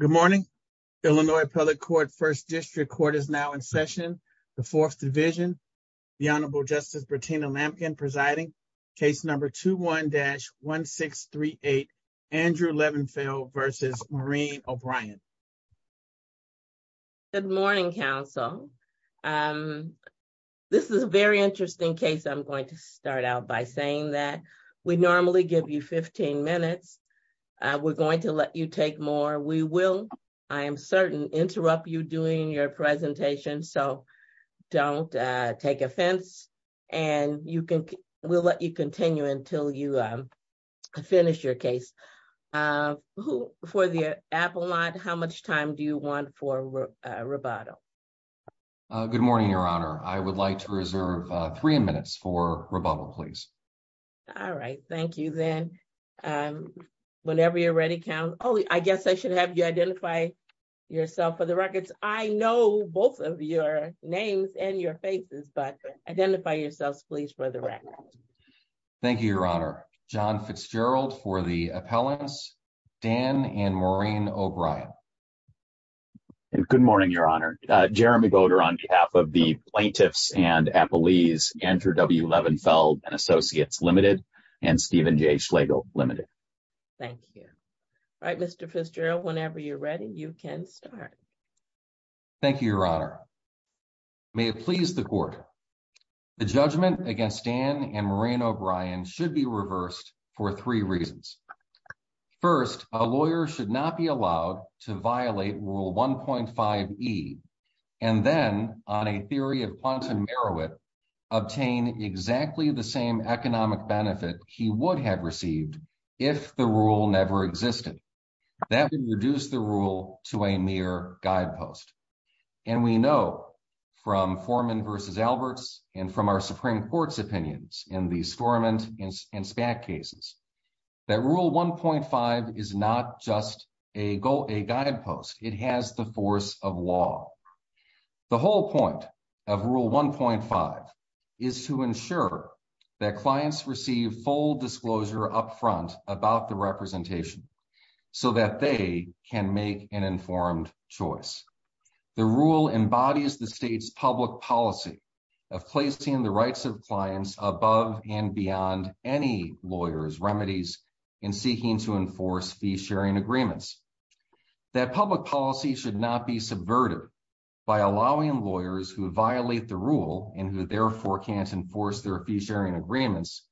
Good morning, Illinois, public court 1st district court is now in session. The 4th division. The honorable justice Bertina lampkin presiding case number 2, 1 dash 1, 6, 3, 8. Andrew Levenfield versus Marine O'Brien. Good morning council. This is a very interesting case. I'm going to start out by saying that we normally give you 15 minutes. We're going to let you take more. We will. I am certain interrupt you doing your presentation. So. Don't take offense and you can, we'll let you continue until you. Finish your case who for the apple lot. How much time do you want for a rebuttal? Good morning, your honor. I would like to reserve 3 minutes for rebuttal. Please. All right, thank you then whenever you're ready count. Oh, I guess I should have you identify. Yourself for the records. I know both of your names and your faces, but identify yourself please for the. Thank you. Your honor John Fitzgerald for the appellants. Dan and Maureen O'Brien. Good morning. Your honor Jeremy voter on behalf of the plaintiffs and appellees enter W. Levenfeld and associates limited and Stephen J. Schlegel limited. Thank you. All right. Mr. Fitzgerald whenever you're ready, you can start. Thank you. Your honor. May it please the court. The judgment against Dan and Marine O'Brien should be reversed for 3 reasons. 1st, a lawyer should not be allowed to violate rule 1.5 E. And then on a theory of quantum Merowith. Obtain exactly the same economic benefit he would have received. If the rule never existed that would reduce the rule to a mere guidepost. And we know from foreman versus Alberts and from our Supreme Court's opinions in the storm and in SPAC cases. That rule 1.5 is not just a goal, a guidepost. It has the force of law. The whole point of rule 1.5 is to ensure that clients receive full disclosure up front about the representation so that they can make an informed choice. The rule embodies the state's public policy of placing the rights of clients above and beyond any lawyer's remedies in seeking to enforce fee sharing agreements. That public policy should not be subverted by allowing lawyers who violate the rule and who therefore can't enforce their fee sharing agreements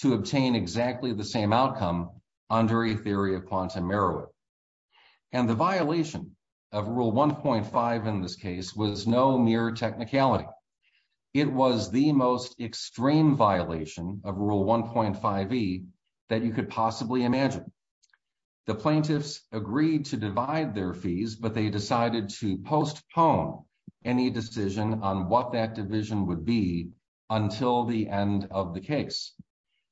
to obtain exactly the same outcome under a theory of quantum Merowith. And the violation of rule 1.5 in this case was no mere technicality. It was the most extreme violation of rule 1.5 E that you could possibly imagine. The plaintiffs agreed to divide their fees, but they decided to postpone any decision on what that division would be until the end of the case.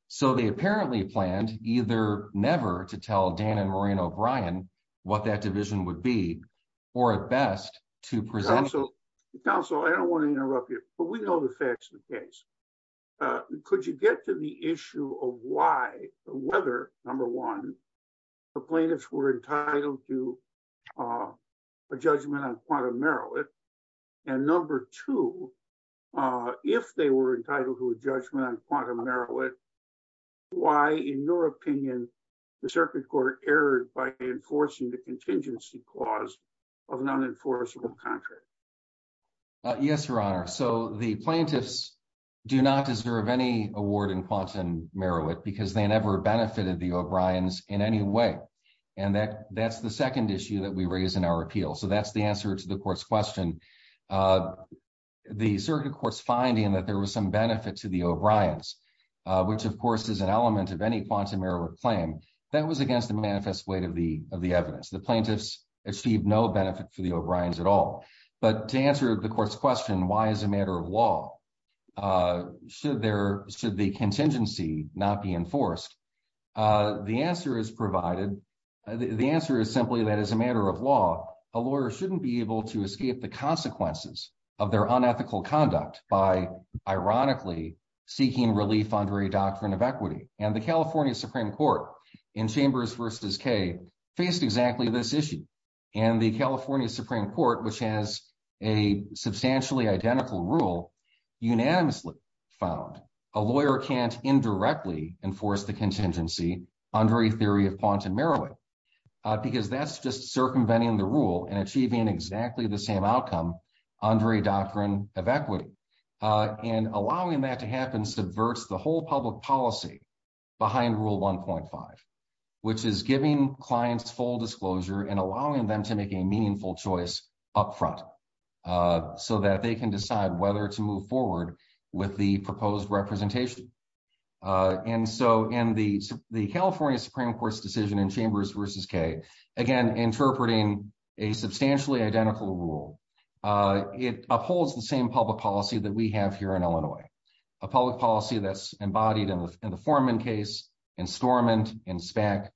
So they apparently planned either never to tell Dan and Maureen O'Brien what that division would be or at best to present. So counsel, I don't want to interrupt you, but we know the facts of the case. Could you get to the issue of why, whether number one, the plaintiffs were entitled to a judgment on quantum Merowith and number two, if they were entitled to a judgment on quantum Merowith, why, in your opinion, the circuit court erred by enforcing the contingency clause of an unenforceable contract? Yes, Your Honor. So the plaintiffs do not deserve any award in quantum Merowith because they never benefited the O'Briens in any way. And that's the second issue that we raise in our appeal. So that's the answer to the court's question. The circuit court's finding that there was some benefit to the O'Briens, which, of course, is an element of any quantum Merowith claim. That was against the manifest weight of the evidence. The plaintiffs achieved no benefit for the O'Briens at all. But to answer the court's question, why is a matter of law? Should the contingency not be enforced? The answer is provided, the answer is simply that as a matter of law, a lawyer shouldn't be able to escape the consequences of their unethical conduct by, ironically, seeking relief under a doctrine of equity. And the California Supreme Court in Chambers versus Kay faced exactly this issue. And the California Supreme Court, which has a substantially identical rule, unanimously found a lawyer can't indirectly enforce the contingency under a theory of quantum Merowith because that's just circumventing the rule and achieving exactly the same outcome under a doctrine of equity. And allowing that to happen subverts the whole public policy behind Rule 1.5, which is giving clients full disclosure and allowing them to make a meaningful choice up front so that they can decide whether to move forward with the proposed representation. And so in the California Supreme Court's decision in Chambers versus Kay, again, interpreting a substantially identical rule, it upholds the same public policy that we have here in Illinois, a public policy that's embodied in the Forman case, in Stormont, in SPAC,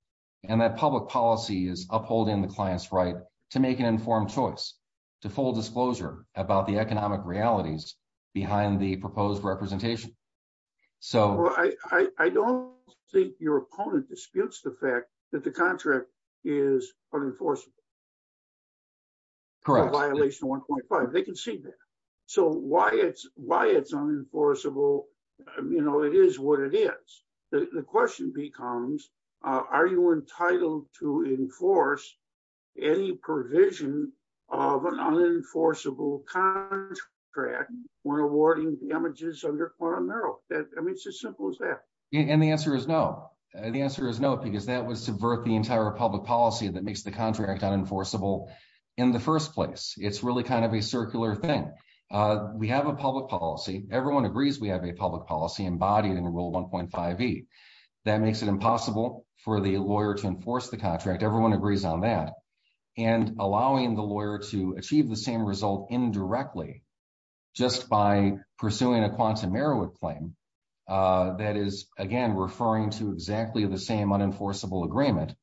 and that public policy is upholding the client's right to make an informed choice, to full disclosure about the economic realities behind the proposed representation. So I don't think your opponent disputes the fact that the contract is unenforceable. Correct. Violation 1.5, they can see that. So why it's unenforceable, you know, it is what it is. The question becomes, are you entitled to enforce any provision of an unenforceable contract when awarding damages under quantum Merowith? I mean, it's as simple as that. And the answer is no. The answer is no, because that would subvert the entire public policy that makes the contract unenforceable in the first place. It's really kind of a circular thing. We have a public policy. Everyone agrees we have a public policy embodied in Rule 1.5e. That makes it impossible for the lawyer to enforce the contract. Everyone agrees on that. And allowing the lawyer to achieve the same result indirectly just by pursuing a quantum Merowith claim that is, again, referring to exactly the same unenforceable agreement.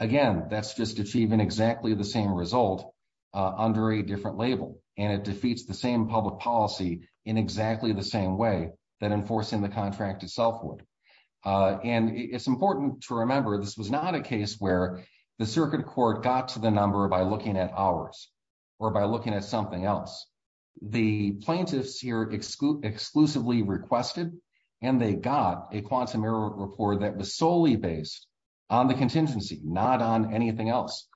Again, that's just achieving exactly the same result under a different label, and it defeats the same public policy in exactly the same way that enforcing the contract itself would. And it's important to remember this was not a case where the circuit court got to the number by looking at ours or by looking at something else. The plaintiffs here exclusively requested, and they got a quantum Merowith report that was solely based on the contingency, not on anything else.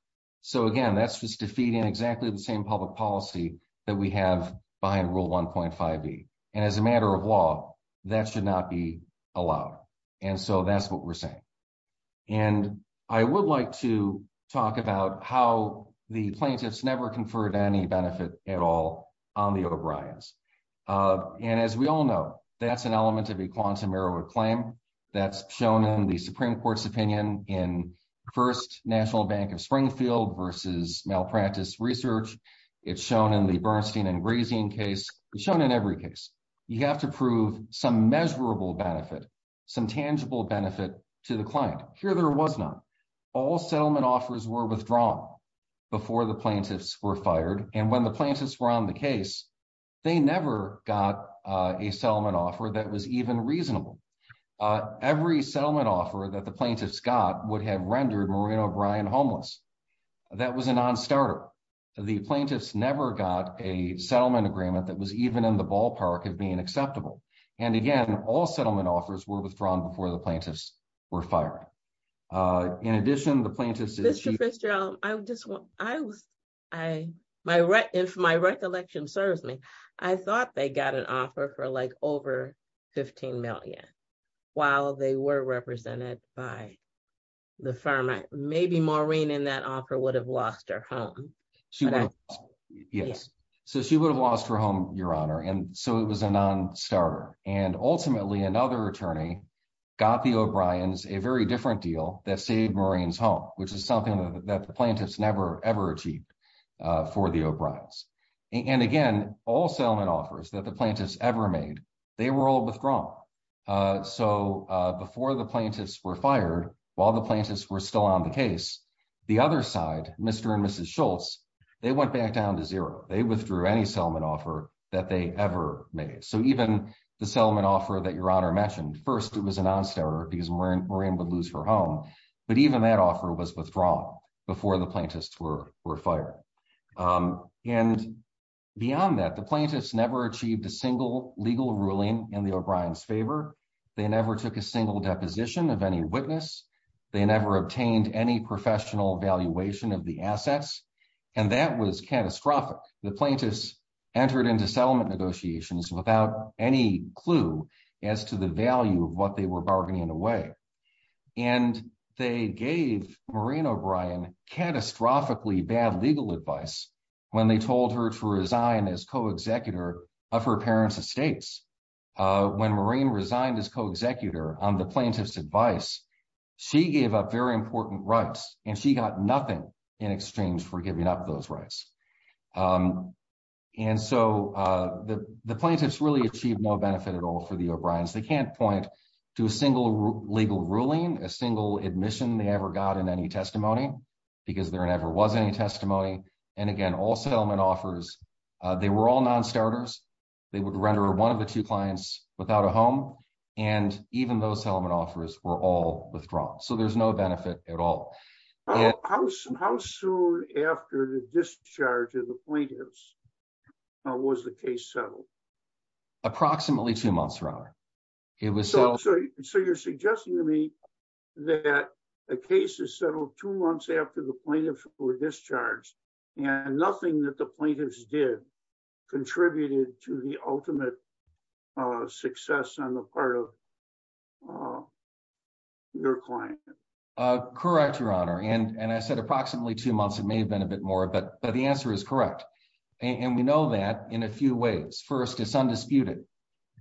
So again, that's just defeating exactly the same public policy that we have behind Rule 1.5e. And as a matter of law, that should not be allowed. And so that's what we're saying. And I would like to talk about how the plaintiffs never conferred any benefit at all on the O'Briens. And as we all know, that's an element of a quantum Merowith claim that's shown in the Supreme Court's opinion in First National Bank of Springfield versus Malpractice Research. It's shown in the Bernstein and Grazian case. It's shown in every case. You have to prove some measurable benefit, some tangible benefit to the client. Here there was not. All settlement offers were withdrawn before the plaintiffs were fired. And when the plaintiffs were on the case, they never got a settlement offer that was even reasonable. Every settlement offer that the plaintiffs got would have rendered Maureen O'Brien homeless. That was a non-starter. The plaintiffs never got a settlement agreement that was even in the ballpark of being acceptable. And again, all settlement offers were withdrawn before the plaintiffs were fired. In addition, the plaintiffs. If my recollection serves me, I thought they got an offer for like over 15 million while they were represented by the firm. Maybe Maureen in that offer would have lost her home. She would have lost her home, Your Honor. And so it was a non-starter. And ultimately, another attorney got the O'Briens a very different deal that saved Maureen's home, which is something that the plaintiffs never, ever achieved for the O'Briens. And again, all settlement offers that the plaintiffs ever made, they were all withdrawn. So before the plaintiffs were fired, while the plaintiffs were still on the case, the other side, Mr. and Mrs. Schultz, they went back down to zero. They withdrew any settlement offer that they ever made. So even the settlement offer that Your Honor mentioned. First, it was a non-starter because Maureen would lose her home. But even that offer was withdrawn before the plaintiffs were fired. And beyond that, the plaintiffs never achieved a single legal ruling in the O'Brien's favor. They never took a single deposition of any witness. They never obtained any professional valuation of the assets. And that was catastrophic. The plaintiffs entered into settlement negotiations without any clue as to the value of what they were bargaining away. And they gave Maureen O'Brien catastrophically bad legal advice when they told her to resign as co-executor of her parents' estates. When Maureen resigned as co-executor on the plaintiff's advice, she gave up very important rights, and she got nothing in exchange for giving up those rights. And so the plaintiffs really achieved no benefit at all for the O'Brien's. They can't point to a single legal ruling, a single admission they ever got in any testimony because there never was any testimony. And again, all settlement offers, they were all non-starters. They would render one of the two clients without a home, and even those settlement offers were all withdrawn. So there's no benefit at all. How soon after the discharge of the plaintiffs was the case settled? Approximately two months, rather. So you're suggesting to me that a case is settled two months after the plaintiffs were to the ultimate success on the part of your client. Correct, Your Honor. And I said approximately two months. It may have been a bit more, but the answer is correct. And we know that in a few ways. First, it's undisputed.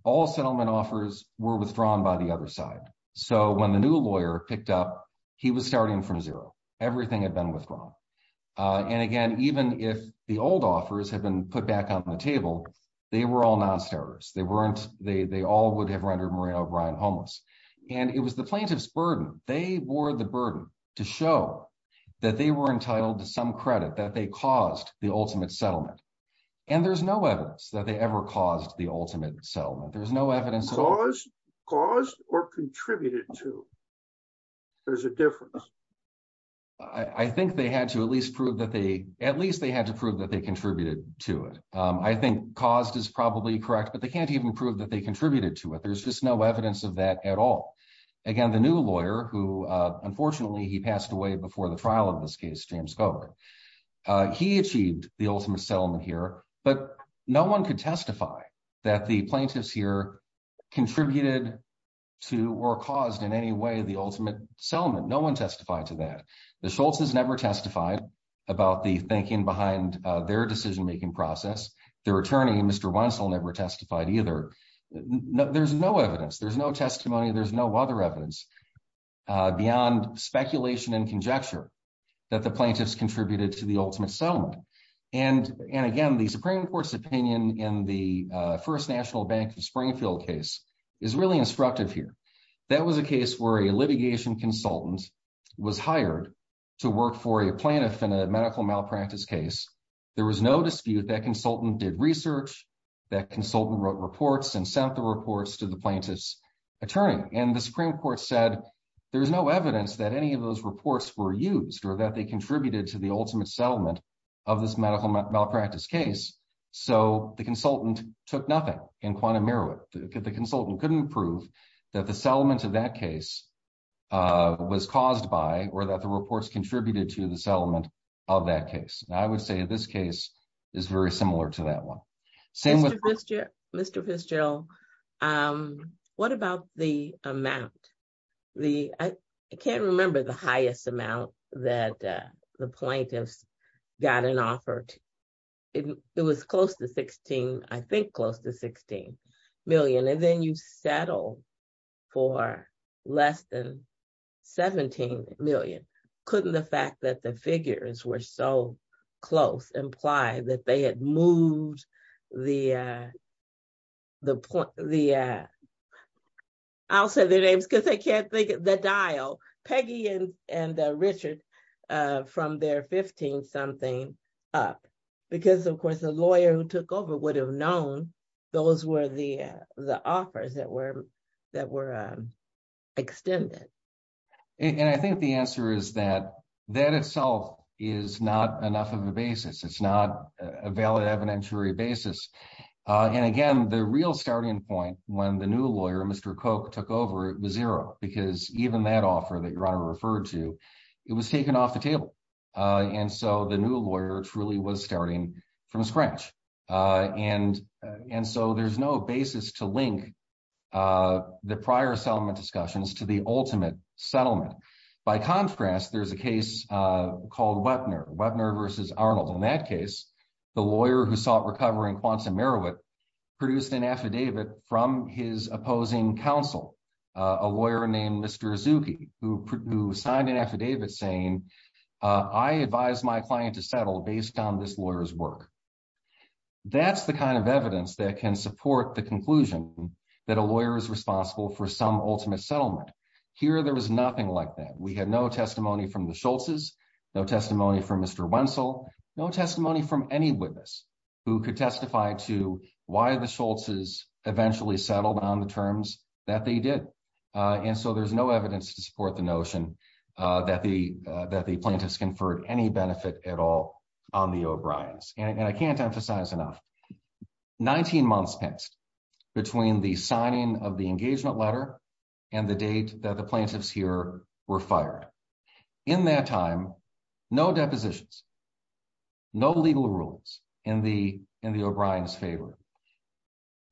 All settlement offers were withdrawn by the other side. So when the new lawyer picked up, he was starting from zero. Everything had been withdrawn. And again, even if the old offers had been put back on the table, they were all non-starters. They all would have rendered Maria O'Brien homeless. And it was the plaintiff's burden. They wore the burden to show that they were entitled to some credit, that they caused the ultimate settlement. And there's no evidence that they ever caused the ultimate settlement. There's no evidence. Caused or contributed to. There's a difference. I think they had to at least prove that they contributed to it. I think caused is probably correct. But they can't even prove that they contributed to it. There's just no evidence of that at all. Again, the new lawyer, who unfortunately he passed away before the trial of this case, James Gover, he achieved the ultimate settlement here. But no one could testify that the plaintiffs here contributed to or caused in any way the ultimate settlement. No one testified to that. The Schultz's never testified about the thinking behind their decision-making process. Their attorney, Mr. Wenzel, never testified either. There's no evidence. There's no testimony. There's no other evidence beyond speculation and conjecture that the plaintiffs contributed to the ultimate settlement. And again, the Supreme Court's opinion in the first National Bank of Springfield case is really instructive here. That was a case where a litigation consultant was hired to work for a plaintiff in a medical malpractice case. There was no dispute. That consultant did research. That consultant wrote reports and sent the reports to the plaintiff's attorney. And the Supreme Court said there's no evidence that any of those reports were used or that they contributed to the ultimate settlement of this medical malpractice case. So the consultant took nothing in quantum merit. The consultant couldn't prove that the settlement of that case was caused by or that the reports contributed to the settlement of that case. And I would say this case is very similar to that one. Mr. Fitzgerald, what about the amount? I can't remember the highest amount that the plaintiffs got an offer. It was close to 16. I think close to 16. And then you settle for less than 17 million. Couldn't the fact that the figures were so close imply that they had moved the... I'll say their names because I can't think of the dial. Peggy and Richard from their 15 something up. Because, of course, the lawyer who took over would have known those were the offers that were extended. And I think the answer is that that itself is not enough of a basis. It's not a valid evidentiary basis. And again, the real starting point when the new lawyer, Mr. Koch, took over, it was zero. Because even that offer that your honor referred to, it was taken off the table. And so the new lawyer truly was starting from scratch. And so there's no basis to link the prior settlement discussions to the ultimate settlement. By contrast, there's a case called Wepner. Wepner versus Arnold. In that case, the lawyer who sought recovery in Quonset, Meriweth produced an affidavit from his opposing counsel, a lawyer named Mr. Azuki, who signed an affidavit saying, I advise my client to settle based on this lawyer's work. That's the kind of evidence that can support the conclusion that a lawyer is responsible for some ultimate settlement. Here, there was nothing like that. We had no testimony from the Schultz's, no testimony from Mr. Wenzel, no testimony from any witness who could testify to why the Schultz's eventually settled on the terms that they did. And so there's no evidence to support the notion that the plaintiffs conferred any benefit at all on the O'Briens. And I can't emphasize enough, 19 months passed between the signing of the engagement letter and the date that the plaintiffs here were fired. In that time, no depositions, no legal rules in the O'Brien's favor.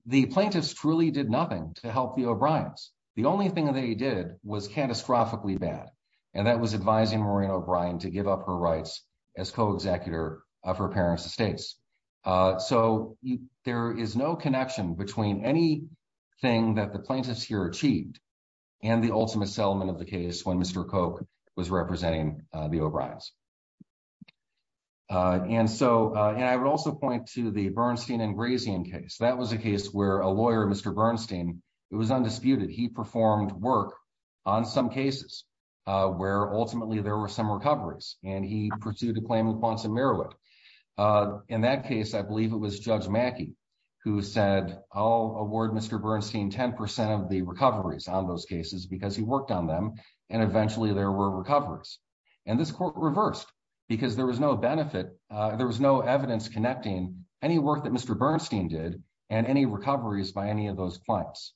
The plaintiffs truly did nothing to help the O'Briens. The only thing that they did was catastrophically bad. And that was advising Maureen O'Brien to give up her rights as co-executor of her parents' estates. So there is no connection between anything that the plaintiffs here achieved and the ultimate settlement of the case when Mr. Koch was representing the O'Briens. And so, and I would also point to the Bernstein and Grazian case. That was a case where a lawyer, Mr. Bernstein, it was undisputed. He performed work on some cases where ultimately there were some recoveries and he pursued a claim in Quonset, Maryland. In that case, I believe it was Judge Mackey who said, I'll award Mr. Bernstein 10% of the recoveries on those cases because he worked on them. And eventually there were recoveries. And this court reversed because there was no benefit. There was no evidence connecting any work that Mr. Bernstein did and any recoveries by any of those clients.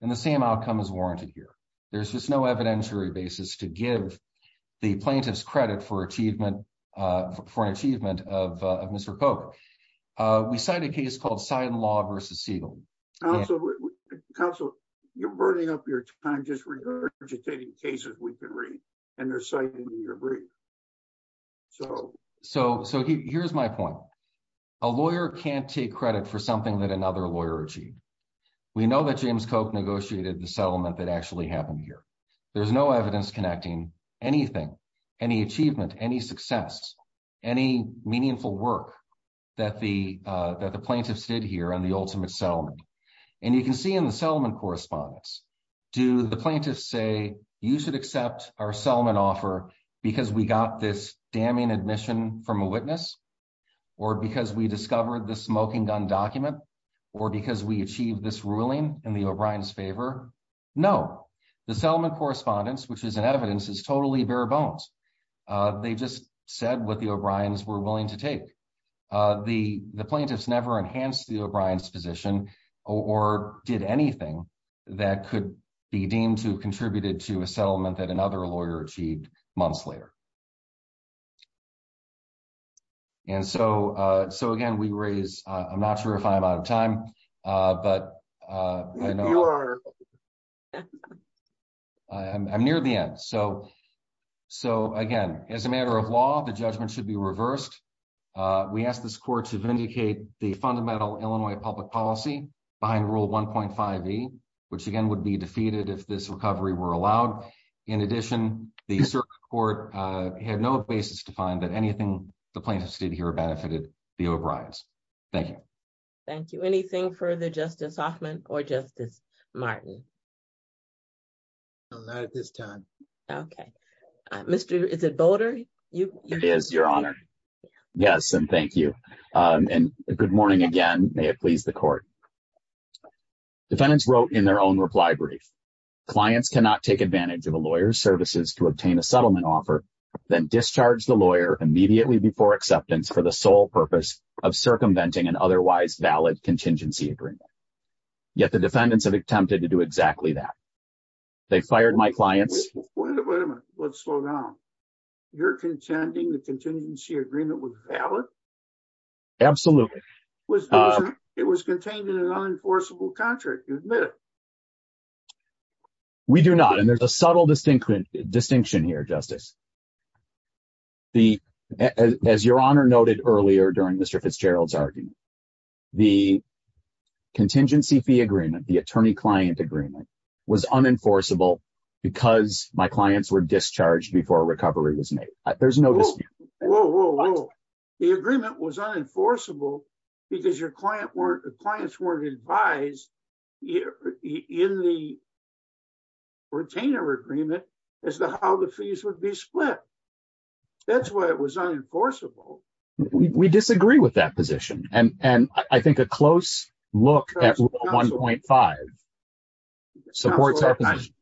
And the same outcome is warranted here. There's just no evidentiary basis to give the plaintiffs credit for an achievement of Mr. Koch. We cite a case called Seidenlaw v. Siegel. Counsel, you're burning up your time just regurgitating cases we've been reading and citing in your brief. So here's my point. A lawyer can't take credit for something that another lawyer achieved. We know that James Koch negotiated the settlement that actually happened here. There's no evidence connecting anything, any achievement, any success, any meaningful work that the plaintiffs did here on the ultimate settlement. And you can see in the settlement correspondence, do the plaintiffs say, you should accept our settlement offer because we got this damning admission from a witness, or because we discovered the smoking gun document, or because we achieved this ruling in the O'Brien's favor? No. The settlement correspondence, which is in evidence, is totally bare bones. They just said what the O'Brien's were willing to take. The plaintiffs never enhanced the O'Brien's position or did anything that could be deemed to have contributed to a settlement that another lawyer achieved months later. And so again, we raise, I'm not sure if I'm out of time, but I'm near the end. So again, as a matter of law, the judgment should be reversed. We ask this court to vindicate the fundamental Illinois public policy behind Rule 1.5e, which again would be defeated if this recovery were allowed. In addition, the circuit court had no basis to find that anything the plaintiffs did here benefited the O'Brien's. Thank you. Thank you. Anything further, Justice Hoffman or Justice Martin? Not at this time. Okay. Mr. is it Boulder? It is, Your Honor. Yes, and thank you. And good morning again. May it please the court. Okay. Defendants wrote in their own reply brief. Clients cannot take advantage of a lawyer's services to obtain a settlement offer, then discharge the lawyer immediately before acceptance for the sole purpose of circumventing an otherwise valid contingency agreement. Yet the defendants have attempted to do exactly that. They fired my clients. Wait a minute. Let's slow down. You're contending the contingency agreement was valid? Absolutely. Was it was contained in an unenforceable contract? You admit it. We do not. And there's a subtle distinction distinction here, Justice. The as Your Honor noted earlier during Mr. Fitzgerald's argument, the contingency fee agreement, the attorney client agreement was unenforceable because my clients were discharged before a recovery was made. There's no. Whoa, whoa, whoa. The agreement was unenforceable because your clients weren't advised in the retainer agreement as to how the fees would be split. That's why it was unenforceable. We disagree with that position. And I think a close look at 1.5 supports our position.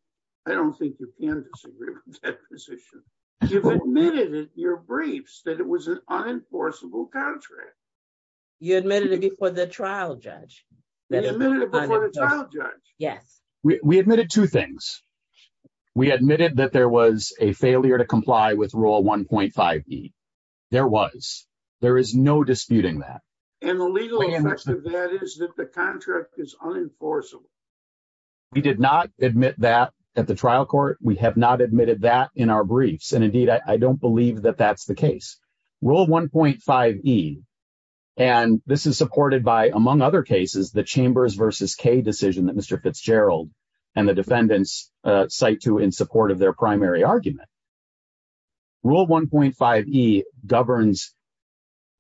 I don't think you can disagree with that position. You've admitted in your briefs that it was an unenforceable contract. You admitted it before the trial judge. They admitted it before the trial judge. Yes, we admitted two things. We admitted that there was a failure to comply with rule 1.5. There was there is no disputing that. And the legal effect of that is that the contract is unenforceable. We did not admit that at the trial court. We have not admitted that in our briefs. And indeed, I don't believe that that's the case. Rule 1.5E, and this is supported by, among other cases, the Chambers versus Kay decision that Mr. Fitzgerald and the defendants cite to in support of their primary argument. Rule 1.5E governs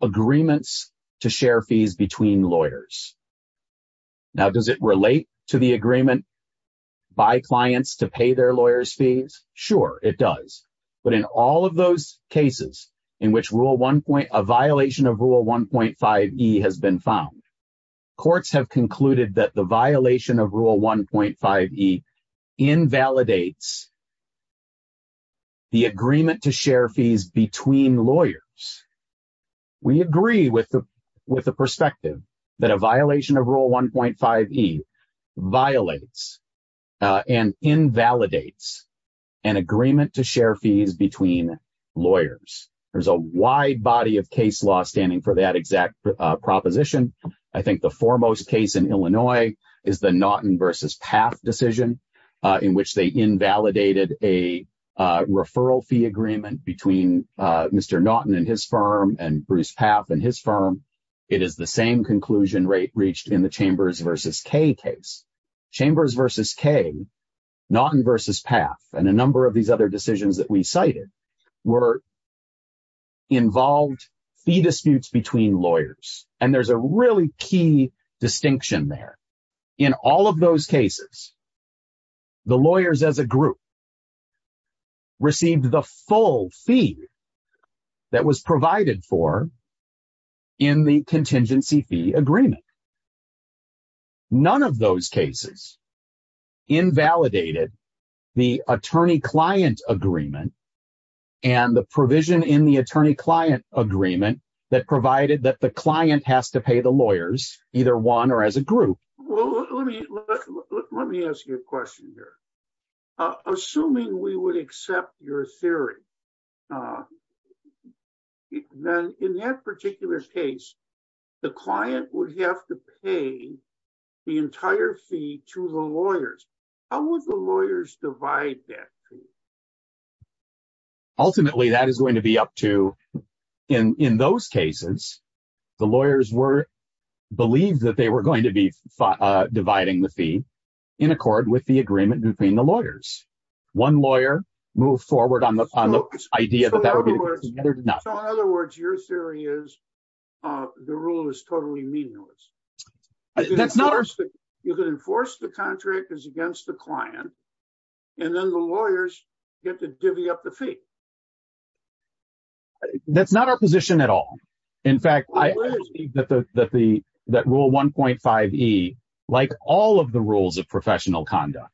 agreements to share fees between lawyers. Now, does it relate to the agreement by clients to pay their lawyers' fees? Sure, it does. But in all of those cases in which a violation of rule 1.5E has been found, courts have concluded that the violation of rule 1.5E invalidates the agreement to share fees between lawyers. We agree with the perspective that a violation of rule 1.5E violates and invalidates an agreement to share fees between lawyers. There's a wide body of case law standing for that exact proposition. I think the foremost case in Illinois is the Naughton versus Paff decision in which they invalidated a referral fee agreement between Mr. Naughton and his firm and Bruce Paff and his firm. It is the same conclusion reached in the Chambers versus Kay case. Chambers versus Kay, Naughton versus Paff, and a number of these other decisions that we cited were involved fee disputes between lawyers. And there's a really key distinction there. In all of those cases, the lawyers as a group received the full fee that was provided for in the contingency fee agreement. None of those cases invalidated the attorney-client agreement and the provision in the attorney-client agreement that provided that the client has to pay the lawyers, either one or as a group. Well, let me ask you a question here. Assuming we would accept your theory, then in that particular case, the client would have to pay the entire fee to the lawyers. How would the lawyers divide that fee? Ultimately, that is going to be up to, in those cases, the lawyers were believed that they were going to be dividing the fee in accord with the agreement between the lawyers. One lawyer moved forward on the idea that that would be enough. So in other words, your theory is the rule is totally meaningless. You could enforce the contract is against the client and then the lawyers get to divvy up the fee. That's not our position at all. In fact, I believe that rule 1.5E, like all of the rules of professional conduct,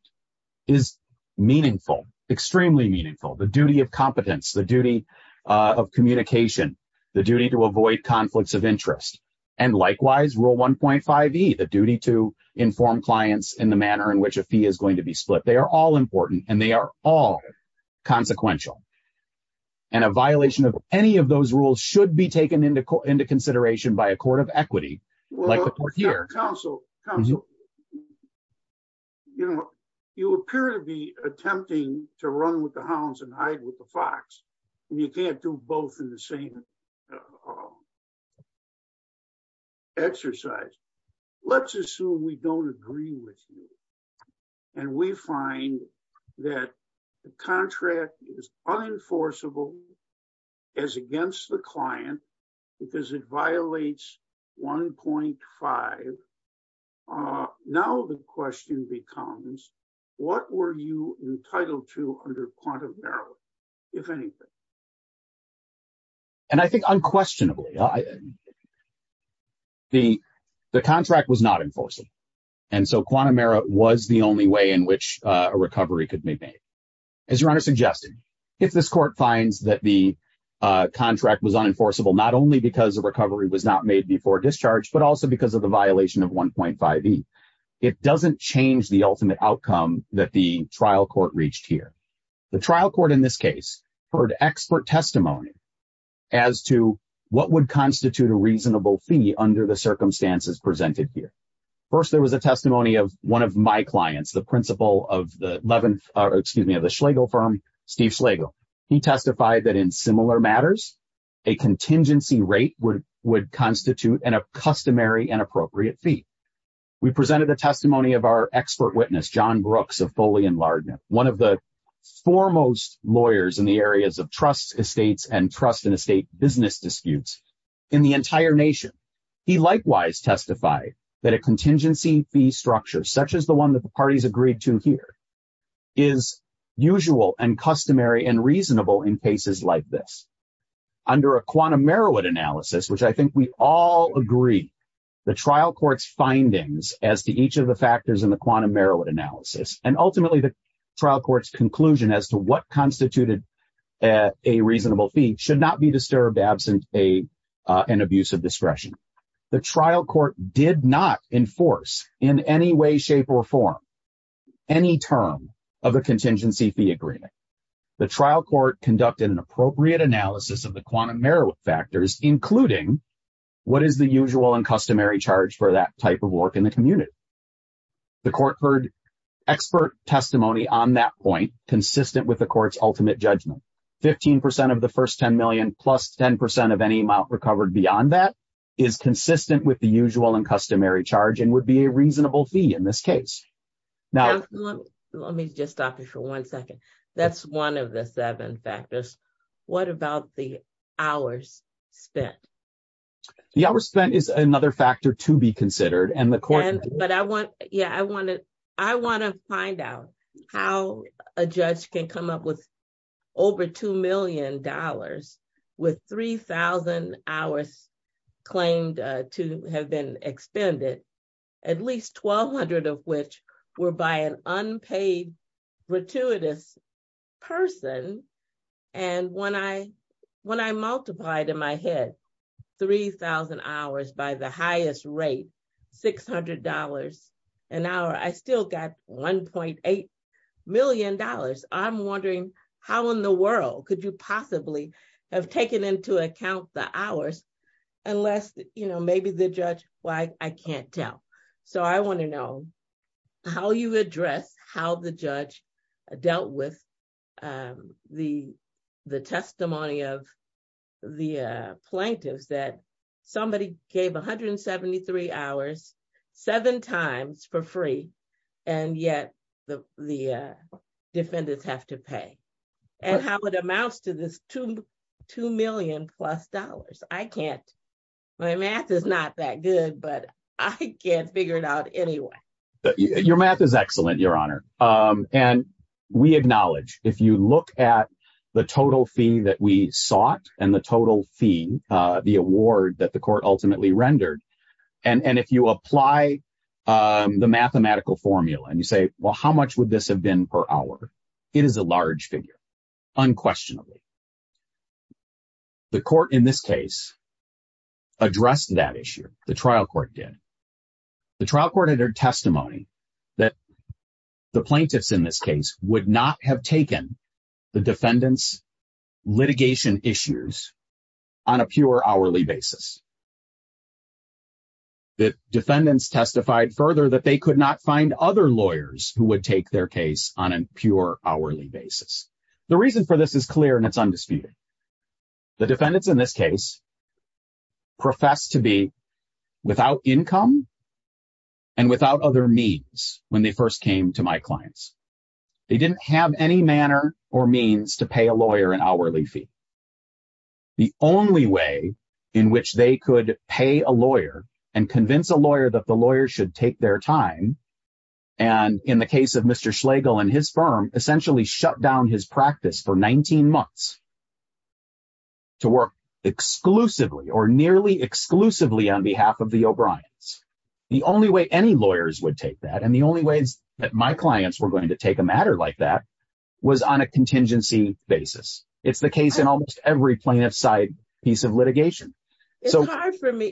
is meaningful, extremely meaningful. The duty of competence, the duty of communication, the duty to avoid conflicts of interest. And likewise, rule 1.5E, the duty to inform clients in the manner in which a fee is going to be split. They are all important and they are all consequential. And a violation of any of those rules should be taken into consideration by a court of equity. Counsel, you appear to be attempting to run with the hounds and hide with the fox. And you can't do both in the same exercise. Let's assume we don't agree with you. And we find that the contract is unenforceable as against the client because it violates 1.5. Now the question becomes, what were you entitled to under quantum error, if anything? And I think unquestionably, the contract was not enforced. And so quantum error was the only way in which a recovery could be made. As your Honor suggested, if this court finds that the contract was unenforceable, not only because the recovery was not made before discharge, but also because of the violation of 1.5E, it doesn't change the ultimate outcome that the trial court reached here. The trial court in this case heard expert testimony as to what would constitute a reasonable fee under the circumstances presented here. First, there was a testimony of one of my clients, the principal of the Schlegel firm, Steve Schlegel. He testified that in similar matters, a contingency rate would constitute an accustomary and appropriate fee. We presented the testimony of our expert witness, John Brooks of Foley and Lardner, one of the foremost lawyers in the areas of trust estates and trust in estate business disputes in the entire nation. He likewise testified that a contingency fee structure, such as the one that the parties agreed to here, is usual and customary and reasonable in cases like this. Under a quantum Merowit analysis, which I think we all agree the trial court's findings as to each of the factors in the quantum Merowit analysis, and ultimately the trial court's conclusion as to what constituted a reasonable fee should not be disturbed absent an abuse of discretion. The trial court did not enforce in any way, shape, or form any term of a contingency fee agreement. The trial court conducted an appropriate analysis of the quantum Merowit factors, including what is the usual and customary charge for that type of work in the community. The court heard expert testimony on that point consistent with the court's ultimate judgment. 15% of the first 10 million plus 10% of any amount recovered beyond that is consistent with the usual and customary charge and would be a reasonable fee in this case. Now- Let me just stop you for one second. That's one of the seven factors. What about the hours spent? The hours spent is another factor to be considered and the court- But I want, yeah, I want to find out how a judge can come up with over $2 million with 3,000 hours claimed to have been expended, at least 1,200 of which were by an unpaid, gratuitous person. And when I multiplied in my head 3,000 hours by the highest rate, $600 an hour, I still got $1.8 million. I'm wondering how in the world could you possibly have taken into account the hours unless, you know, maybe the judge- Well, I can't tell. So I want to know how you address how the judge dealt with the testimony of the plaintiffs that somebody gave 173 hours seven times for free and yet the defendants have to pay and how it amounts to this $2 million plus. I can't, my math is not that good, but I can't figure it out anyway. Your math is excellent, Your Honor. And we acknowledge, if you look at the total fee that we sought and the total fee, the award that the court ultimately rendered, and if you apply the mathematical formula and you say, well, how much would this have been per hour? It is a large figure, unquestionably. The court in this case addressed that issue. The trial court did. The trial court entered testimony that the plaintiffs in this case would not have taken the defendants' litigation issues on a pure hourly basis. The defendants testified further that they could not find other lawyers who would take their case on a pure hourly basis. The reason for this is clear and it's undisputed. The defendants in this case professed to be without income and without other means when they first came to my clients. They didn't have any manner or means to pay a lawyer an hourly fee. The only way in which they could pay a lawyer and convince a lawyer that the lawyer should take their time, and in the case of Mr. Schlegel and his firm, essentially shut down his practice for 19 months to work exclusively or nearly exclusively on behalf of the O'Briens. The only way any lawyers would take that and the only ways that my clients were going to take a matter like that was on a contingency basis. It's the case in almost every plaintiff side piece of litigation. It's hard for me.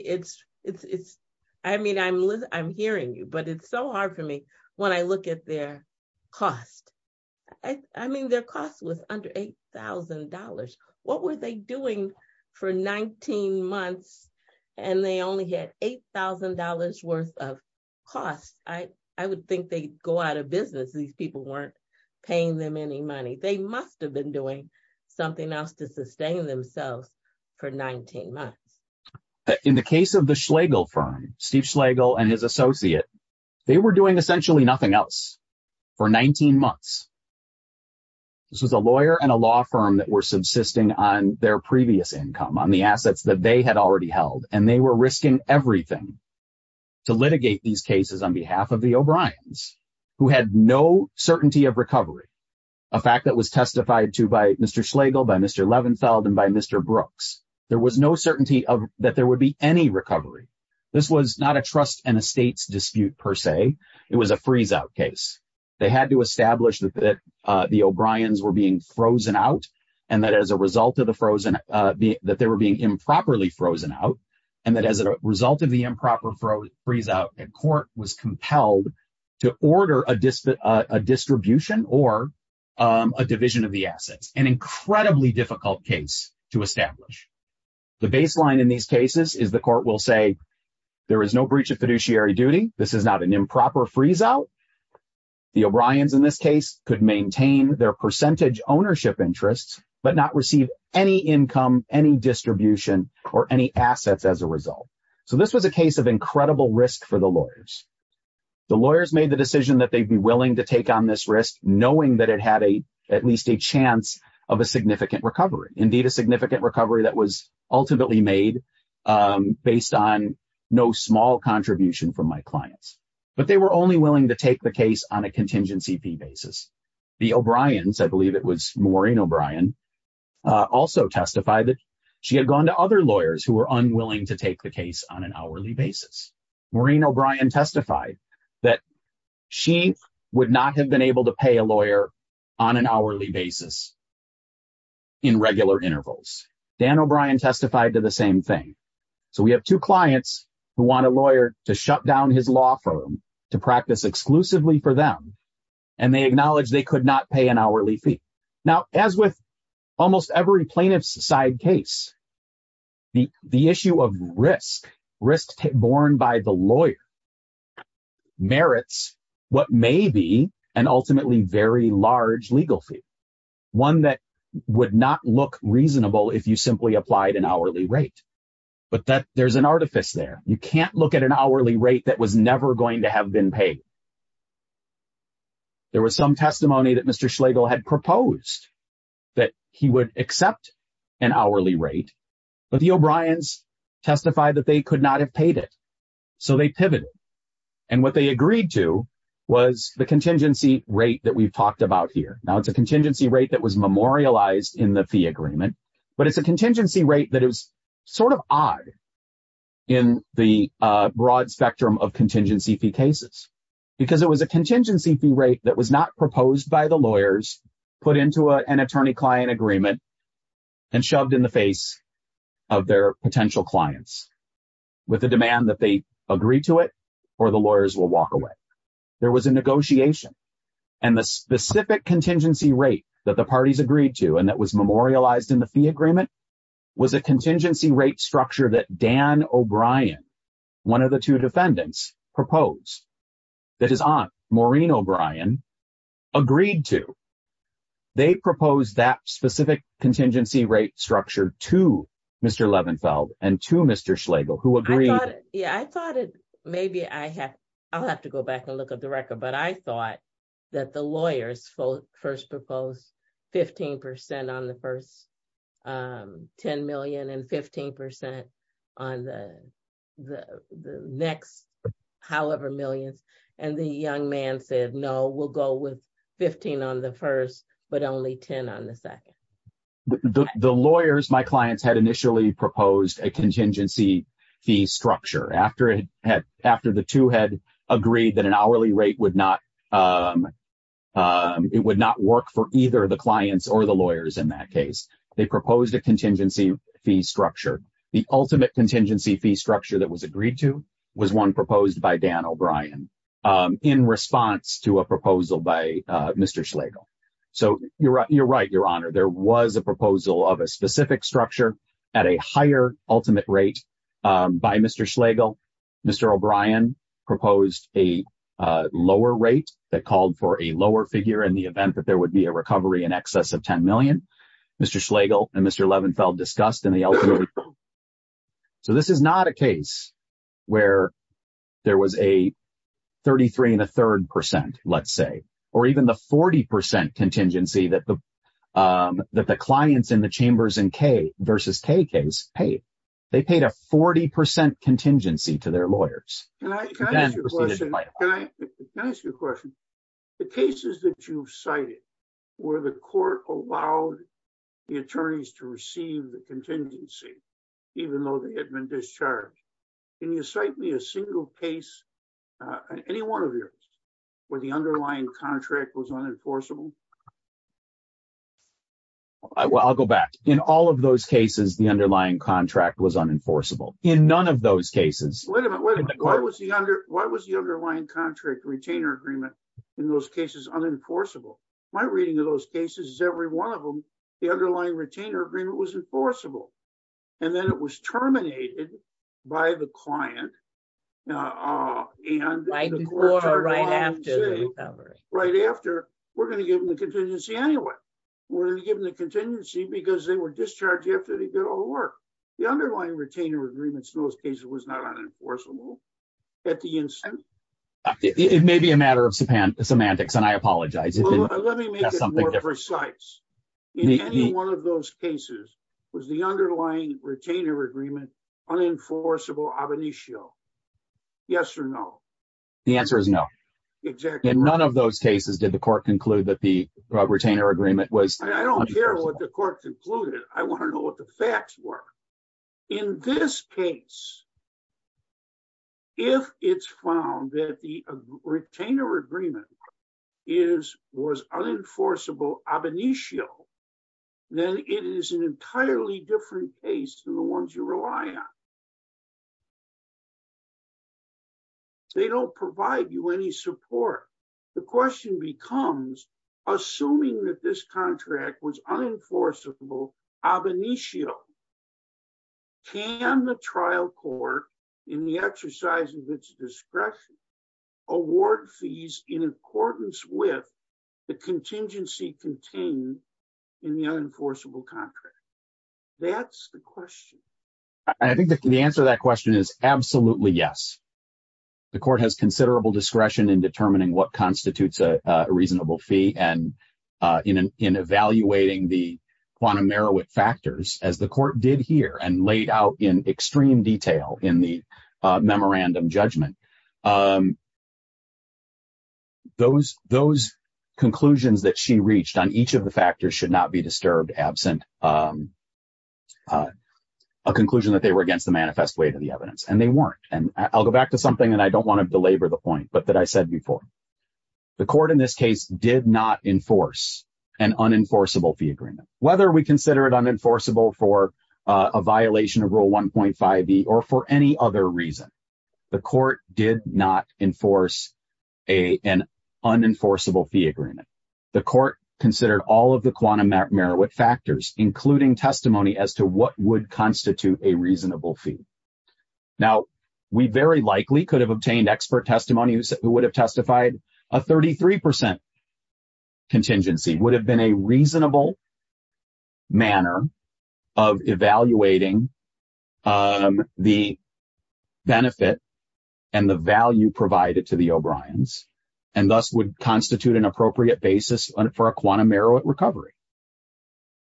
I mean, I'm hearing you, but it's so hard for me when I look at their cost. I mean, their cost was under $8,000. What were they doing for 19 months and they only had $8,000 worth of costs? I would think they'd go out of business. These people weren't paying them any money. They must've been doing something else to sustain themselves for 19 months. In the case of the Schlegel firm, Steve Schlegel and his associate, they were doing essentially nothing else for 19 months. This was a lawyer and a law firm that were subsisting on their previous income, on the assets that they had already held, and they were risking everything to litigate these cases on behalf of the O'Briens who had no certainty of recovery. A fact that was testified to by Mr. Schlegel, by Mr. Levenfeld and by Mr. Brooks. There was no certainty that there would be any recovery. This was not a trust and a state's dispute per se. It was a freeze out case. They had to establish that the O'Briens were being frozen out and that as a result of the frozen, that they were being improperly frozen out. And that as a result of the improper freeze out, a court was compelled to order a distribution or a division of the assets. An incredibly difficult case to establish. The baseline in these cases is the court will say, there is no breach of fiduciary duty. This is not an improper freeze out. The O'Briens in this case could maintain their percentage ownership interests, but not receive any income, any distribution or any assets as a result. So this was a case of incredible risk for the lawyers. The lawyers made the decision that they'd be willing to take on this risk, knowing that it had at least a chance of a significant recovery. Indeed, a significant recovery that was ultimately made based on no small contribution from my clients. But they were only willing to take the case on a contingency fee basis. The O'Briens, I believe it was Maureen O'Brien, also testified that she had gone to other lawyers who were unwilling to take the case on an hourly basis. Maureen O'Brien testified that she would not have been able to pay a lawyer on an hourly basis in regular intervals. Dan O'Brien testified to the same thing. So we have two clients who want a lawyer to shut down his law firm to practice exclusively for them. And they acknowledge they could not pay an hourly fee. Now, as with almost every plaintiff's side case, the issue of risk, risk borne by the lawyer, merits what may be an ultimately very large legal fee. One that would not look reasonable if you simply applied an hourly rate. But there's an artifice there. You can't look at an hourly rate that was never going to have been paid. There was some testimony that Mr. Schlegel had proposed that he would accept an hourly rate, but the O'Briens testified that they could not have paid it. So they pivoted. And what they agreed to was the contingency rate that we've talked about here. Now it's a contingency rate that was memorialized in the fee agreement, but it's a contingency rate that is sort of odd in the broad spectrum of contingency fee cases. Because it was a contingency fee rate that was not proposed by the lawyers, put into an attorney-client agreement and shoved in the face of their potential clients with the demand that they agree to it or the lawyers will walk away. There was a negotiation. And the specific contingency rate that the parties agreed to and that was memorialized in the fee agreement was a contingency rate structure that Dan O'Brien, one of the two defendants, proposed. That is on Maureen O'Brien agreed to. They proposed that specific contingency rate structure to Mr. Levenfeld and to Mr. Schlegel who agreed. I thought, yeah, I thought maybe I have, I'll have to go back and look at the record, but I thought that the lawyers first proposed 15% on the first 10 million and 15% on the next however millions. And the young man said, no, we'll go with 15 on the first, but only 10 on the second. The lawyers, my clients had initially proposed a contingency fee structure after the two had agreed that an hourly rate would not, it would not work for either the clients or the lawyers in that case. They proposed a contingency fee structure. was one proposed by Dan O'Brien. In response to a proposal by Mr. Schlegel. So you're right, your honor, there was a proposal of a specific structure at a higher ultimate rate by Mr. Schlegel. Mr. O'Brien proposed a lower rate that called for a lower figure in the event that there would be a recovery in excess of 10 million. Mr. Schlegel and Mr. Levenfeld discussed in the ultimate. So this is not a case where there was a 33 and a third percent, let's say, or even the 40% contingency that the clients in the Chambers and K versus K case paid. They paid a 40% contingency to their lawyers. Can I ask you a question? The cases that you've cited where the court allowed the attorneys to receive the contingency, even though they had been discharged. Can you cite me a single case, any one of yours, where the underlying contract was unenforceable? Well, I'll go back. In all of those cases, the underlying contract was unenforceable. In none of those cases. Wait a minute, why was the underlying contract retainer agreement in those cases unenforceable? My reading of those cases is every one of them, the underlying retainer agreement was enforceable. And then it was terminated by the client. Right after, we're going to give them the contingency anyway. We're going to give them the contingency because they were discharged after they did all the work. The underlying retainer agreements in those cases was not unenforceable at the instance. It may be a matter of semantics and I apologize. Let me make it more precise. Any one of those cases was the underlying retainer agreement unenforceable ab initio. Yes or no? The answer is no. Exactly. In none of those cases, did the court conclude that the retainer agreement was? I don't care what the court concluded. I want to know what the facts were. In this case, if it's found that the retainer agreement was unenforceable ab initio, then it is an entirely different case than the ones you rely on. They don't provide you any support. The question becomes, assuming that this contract was unenforceable ab initio, can the trial court in the exercise of its discretion award fees in accordance with the contingency contained in the unenforceable contract? That's the question. I think the answer to that question is absolutely yes. The court has considerable discretion in determining what constitutes a reasonable fee and in evaluating the quantum Merowith factors as the court did here and laid out in extreme detail in the memorandum judgment. Those conclusions that she reached on each of the factors should not be disturbed absent a conclusion that they were against the manifest way to the evidence, and they weren't. And I'll go back to something and I don't want to belabor the point, but that I said before. The court in this case did not enforce an unenforceable fee agreement. Whether we consider it unenforceable for a violation of rule 1.5B or for any other reason, the court did not enforce an unenforceable fee agreement. The court considered all of the quantum Merowith factors, including testimony as to what would constitute a reasonable fee. Now, we very likely could have obtained expert testimony who would have testified a 33% contingency would have been a reasonable manner of evaluating the benefit and the value provided to the O'Briens and thus would constitute an appropriate basis for a quantum Merowith recovery.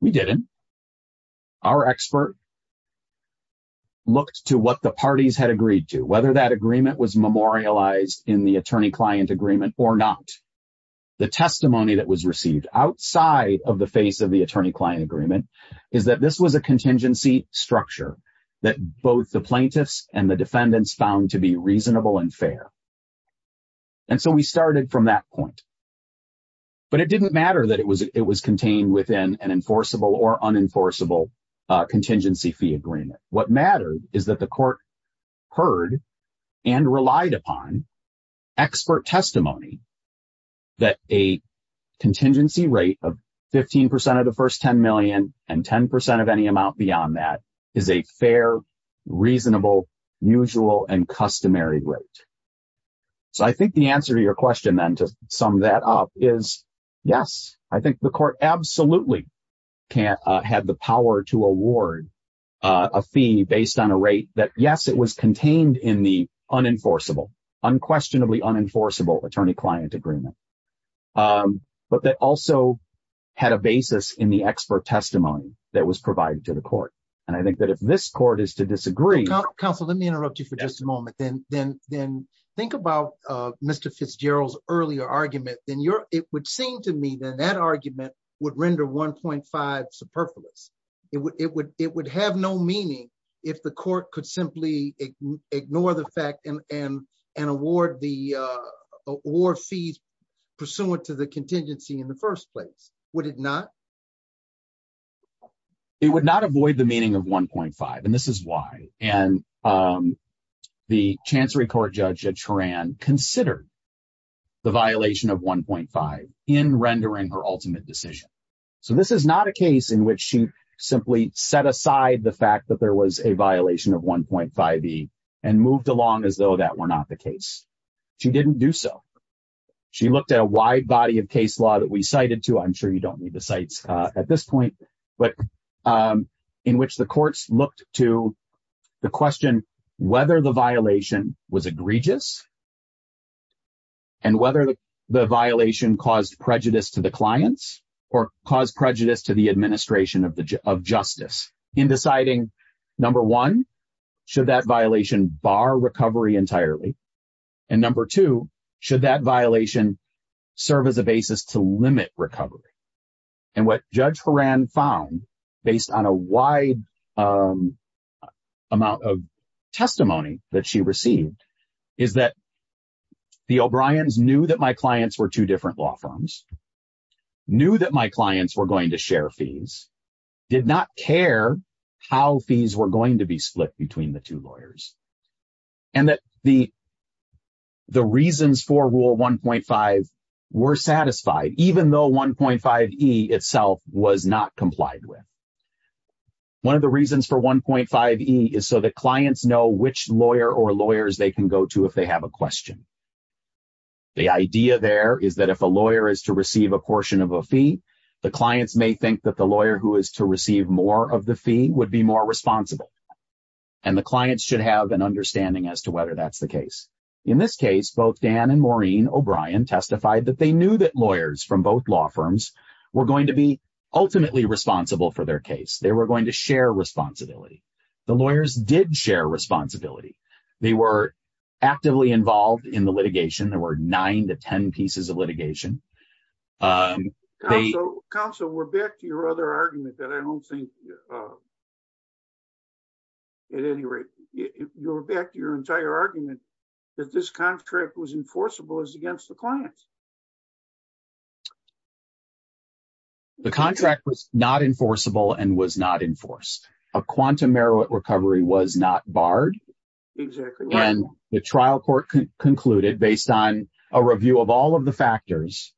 We didn't. Our expert looked to what the parties had agreed to, whether that agreement was memorialized in the attorney-client agreement or not. The testimony that was received outside of the face of the attorney-client agreement is that this was a contingency structure that both the plaintiffs and the defendants found to be reasonable and fair. And so we started from that point. But it didn't matter that it was contained within an enforceable or unenforceable contingency fee agreement. What mattered is that the court heard and relied upon expert testimony that a contingency rate of 15% of the first 10 million and 10% of any amount beyond that is a fair, reasonable, usual, and customary rate. So I think the answer to your question then to sum that up is, yes, I think the court absolutely had the power to award a fee based on a rate that yes, it was contained in the unenforceable, unquestionably unenforceable attorney-client agreement. But that also had a basis in the expert testimony that was provided to the court. And I think that if this court is to disagree- Counsel, let me interrupt you for just a moment. Then think about Mr. Fitzgerald's earlier argument. It would seem to me that that argument would render 1.5 superfluous. It would have no meaning if the court could simply ignore the fact and award the award fees pursuant to the contingency in the first place. Would it not? It would not avoid the meaning of 1.5. And this is why. And the Chancery Court Judge at Turan considered the violation of 1.5 in rendering her ultimate decision. So this is not a case in which she simply set aside the fact that there was a violation of 1.5e and moved along as though that were not the case. She didn't do so. She looked at a wide body of case law that we cited to. I'm sure you don't need the sites at this point. But in which the courts looked to the question whether the violation was egregious and whether the violation caused prejudice to the clients or caused prejudice to the administration of justice in deciding number one, should that violation bar recovery entirely? And number two, should that violation serve as a basis to limit recovery? And what Judge Horan found based on a wide amount of testimony that she received is that the O'Briens knew that my clients were two different law firms, knew that my clients were going to share fees, did not care how fees were going to be split between the two lawyers. And that the reasons for rule 1.5 were satisfied even though 1.5e itself was not complied with. One of the reasons for 1.5e is so the clients know which lawyer or lawyers they can go to if they have a question. The idea there is that if a lawyer is to receive a portion of a fee, the clients may think that the lawyer who is to receive more of the fee would be more responsible. And the clients should have an understanding as to whether that's the case. In this case, both Dan and Maureen O'Brien testified that they knew that lawyers from both law firms were going to be ultimately responsible for their case. They were going to share responsibility. The lawyers did share responsibility. They were actively involved in the litigation. There were nine to 10 pieces of litigation. Counsel, we're back to your other argument that I don't think... At any rate, you're back to your entire argument that this contract was enforceable as against the clients. The contract was not enforceable and was not enforced. A quantum merit recovery was not barred. Exactly. And the trial court concluded based on a review of all of the factors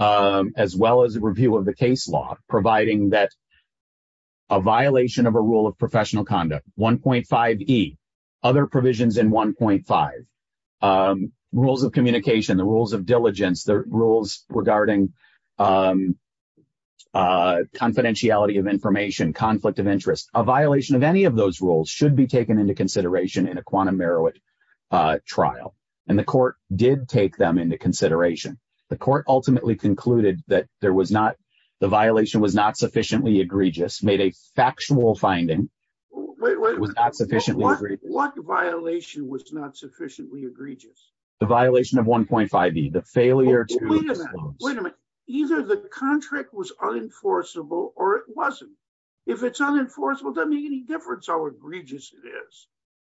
as well as a review of the case law, providing that a violation of a rule of professional conduct, 1.5E, other provisions in 1.5, rules of communication, the rules of diligence, the rules regarding confidentiality of information, conflict of interest, a violation of any of those rules should be taken into consideration in a quantum merit trial. And the court did take them into consideration. The court ultimately concluded that the violation was not sufficiently egregious, made a factual finding. It was not sufficiently egregious. What violation was not sufficiently egregious? The violation of 1.5E, the failure to disclose. Wait a minute. Either the contract was unenforceable or it wasn't. If it's unenforceable, it doesn't make any difference how egregious it is.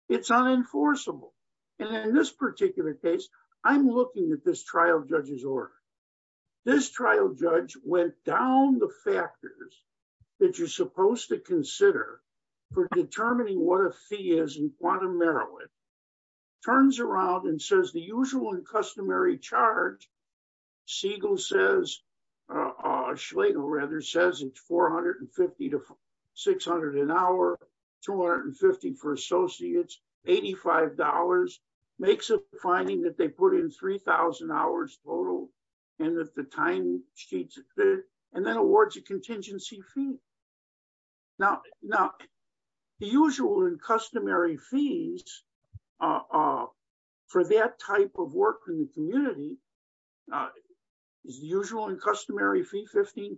It's unenforceable. And in this particular case, I'm looking at this trial judge's order. This trial judge went down the factors that you're supposed to consider for determining what a fee is in quantum merit, turns around and says, the usual and customary charge, Siegel says, Schlegel rather, says it's 450 to 600 an hour, 250 for associates, $85, makes a finding that they put in 3,000 hours total and that the timesheets are clear and then awards a contingency fee. Now, the usual and customary fees for that type of work in the community is the usual and customary fee, 15%.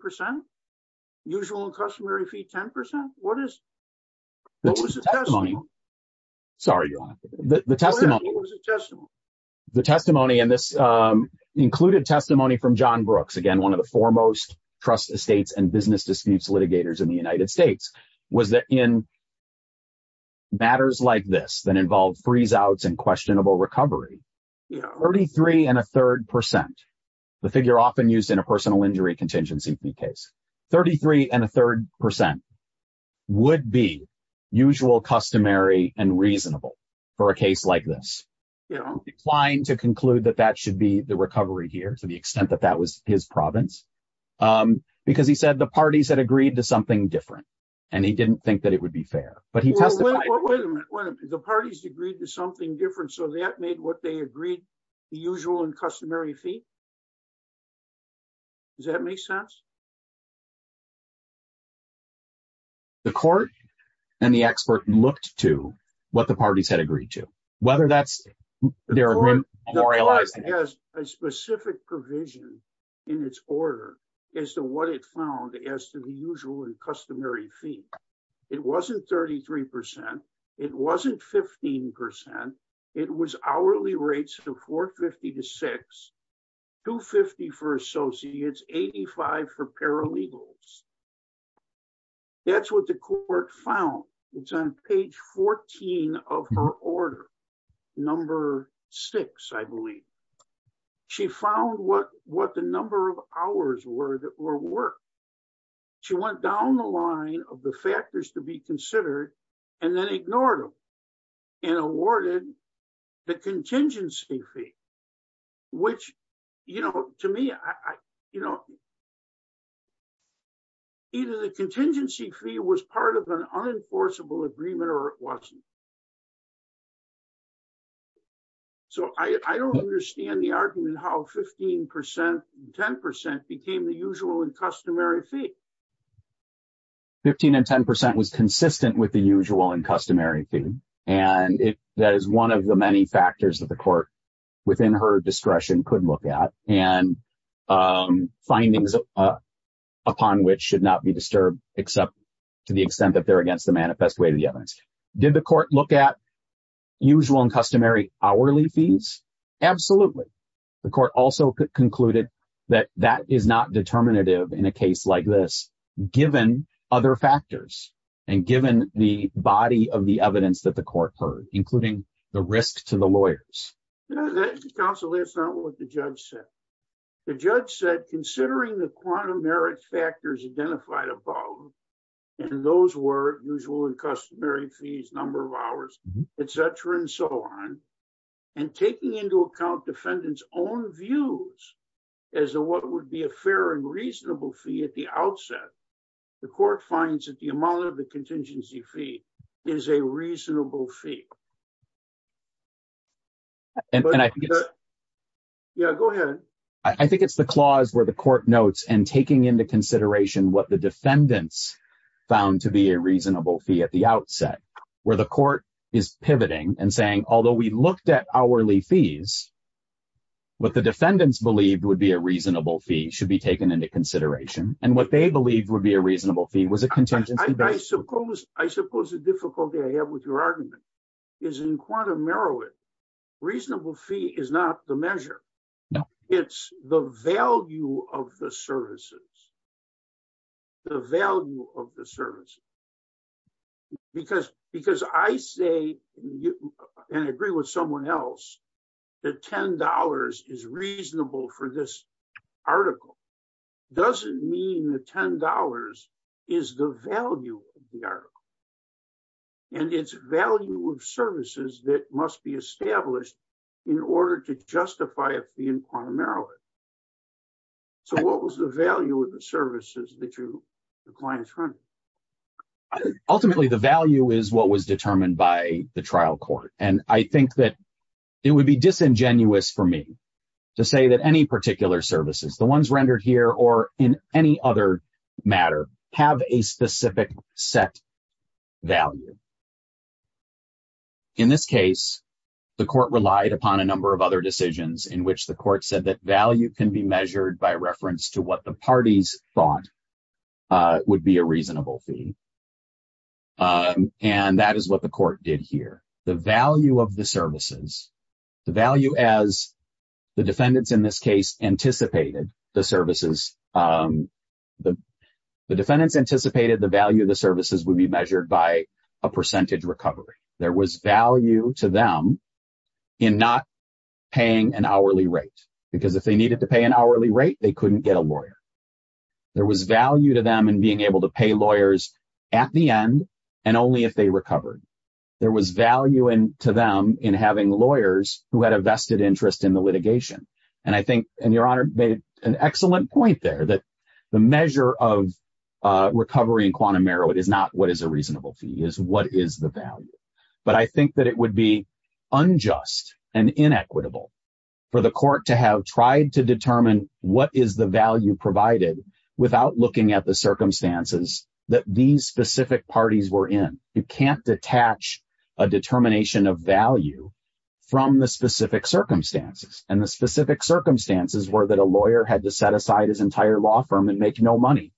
Usual and customary fee, 10%. What is it? What was the testimony? Sorry, your honor, the testimony. What was the testimony? The testimony and this included testimony from John Brooks, again, one of the foremost trust estates and business disputes litigators in the United States was that in matters like this that involved freeze outs and questionable recovery, 33 and a third percent, the figure often used in a personal injury contingency fee case, 33 and a third percent would be usual, customary and reasonable for a case like this. Applying to conclude that that should be the recovery here to the extent that that was his province because he said the parties had agreed to something different and he didn't think that it would be fair, but he testified- Well, wait a minute, wait a minute. The parties agreed to something different so that made what they agreed, the usual and customary fee? Does that make sense? The court and the expert looked to what the parties had agreed to, whether that's- The court has a specific provision in its order as to what it found as to the usual and customary fee. It wasn't 33%. It wasn't 15%. It was hourly rates of 450 to six, 250 for associates, 85 for paralegals. That's what the court found. It's on page 14 of her order, number six, I believe. She found what the number of hours were that were worked. She went down the line of the factors to be considered and then ignored them and awarded the contingency fee which to me, either the contingency fee was part of an unenforceable agreement or it wasn't. I don't understand the argument how 15% and 10% became the usual and customary fee. 15% and 10% was consistent with the usual and customary fee and that is one of the many factors that the court within her discretion could look at and findings upon which should not be disturbed except to the extent that they're against the manifest way to the evidence. Did the court look at usual and customary hourly fees? Absolutely. The court also concluded that that is not determinative in a case like this given other factors and given the body of the evidence that the court heard including the risk to the lawyers. Counsel, that's not what the judge said. The judge said, considering the quantum merit factors identified above and those were usual and customary fees, number of hours, et cetera and so on and taking into account defendant's own views as to what would be a fair and reasonable fee at the outset, the court finds that the amount of the contingency fee is a reasonable fee. And I think it's- Yeah, go ahead. I think it's the clause where the court notes and taking into consideration what the defendants found to be a reasonable fee at the outset where the court is pivoting and saying, although we looked at hourly fees, what the defendants believed would be a reasonable fee should be taken into consideration and what they believed would be a reasonable fee was a contingency fee. I suppose the difficulty I have with your argument is in quantum merit, reasonable fee is not the measure. It's the value of the services, the value of the service because I say and I agree with someone else that $10 is reasonable for this article doesn't mean the $10 is the value of the article and it's value of services that must be established in order to justify a fee in quantum merit. So what was the value of the services that the client's running? Ultimately, the value is what was determined by the trial court. And I think that it would be disingenuous for me to say that any particular services, the ones rendered here or in any other matter have a specific set value. In this case, the court relied upon a number of other decisions in which the court said that value can be measured by reference to what the parties thought would be a reasonable fee. And that is what the court did here. The value of the services, the value as the defendants in this case anticipated the services, the defendants anticipated the value of the services would be measured by a percentage recovery. There was value to them in not paying an hourly rate, because if they needed to pay an hourly rate, they couldn't get a lawyer. There was value to them in being able to pay lawyers at the end and only if they recovered. There was value to them in having lawyers who had a vested interest in the litigation. And I think, and Your Honor made an excellent point that the measure of recovery in quantum merit is not what is a reasonable fee is what is the value. But I think that it would be unjust and inequitable for the court to have tried to determine what is the value provided without looking at the circumstances that these specific parties were in. You can't detach a determination of value from the specific circumstances. And the specific circumstances were that a lawyer had to set aside his entire law firm and make no money,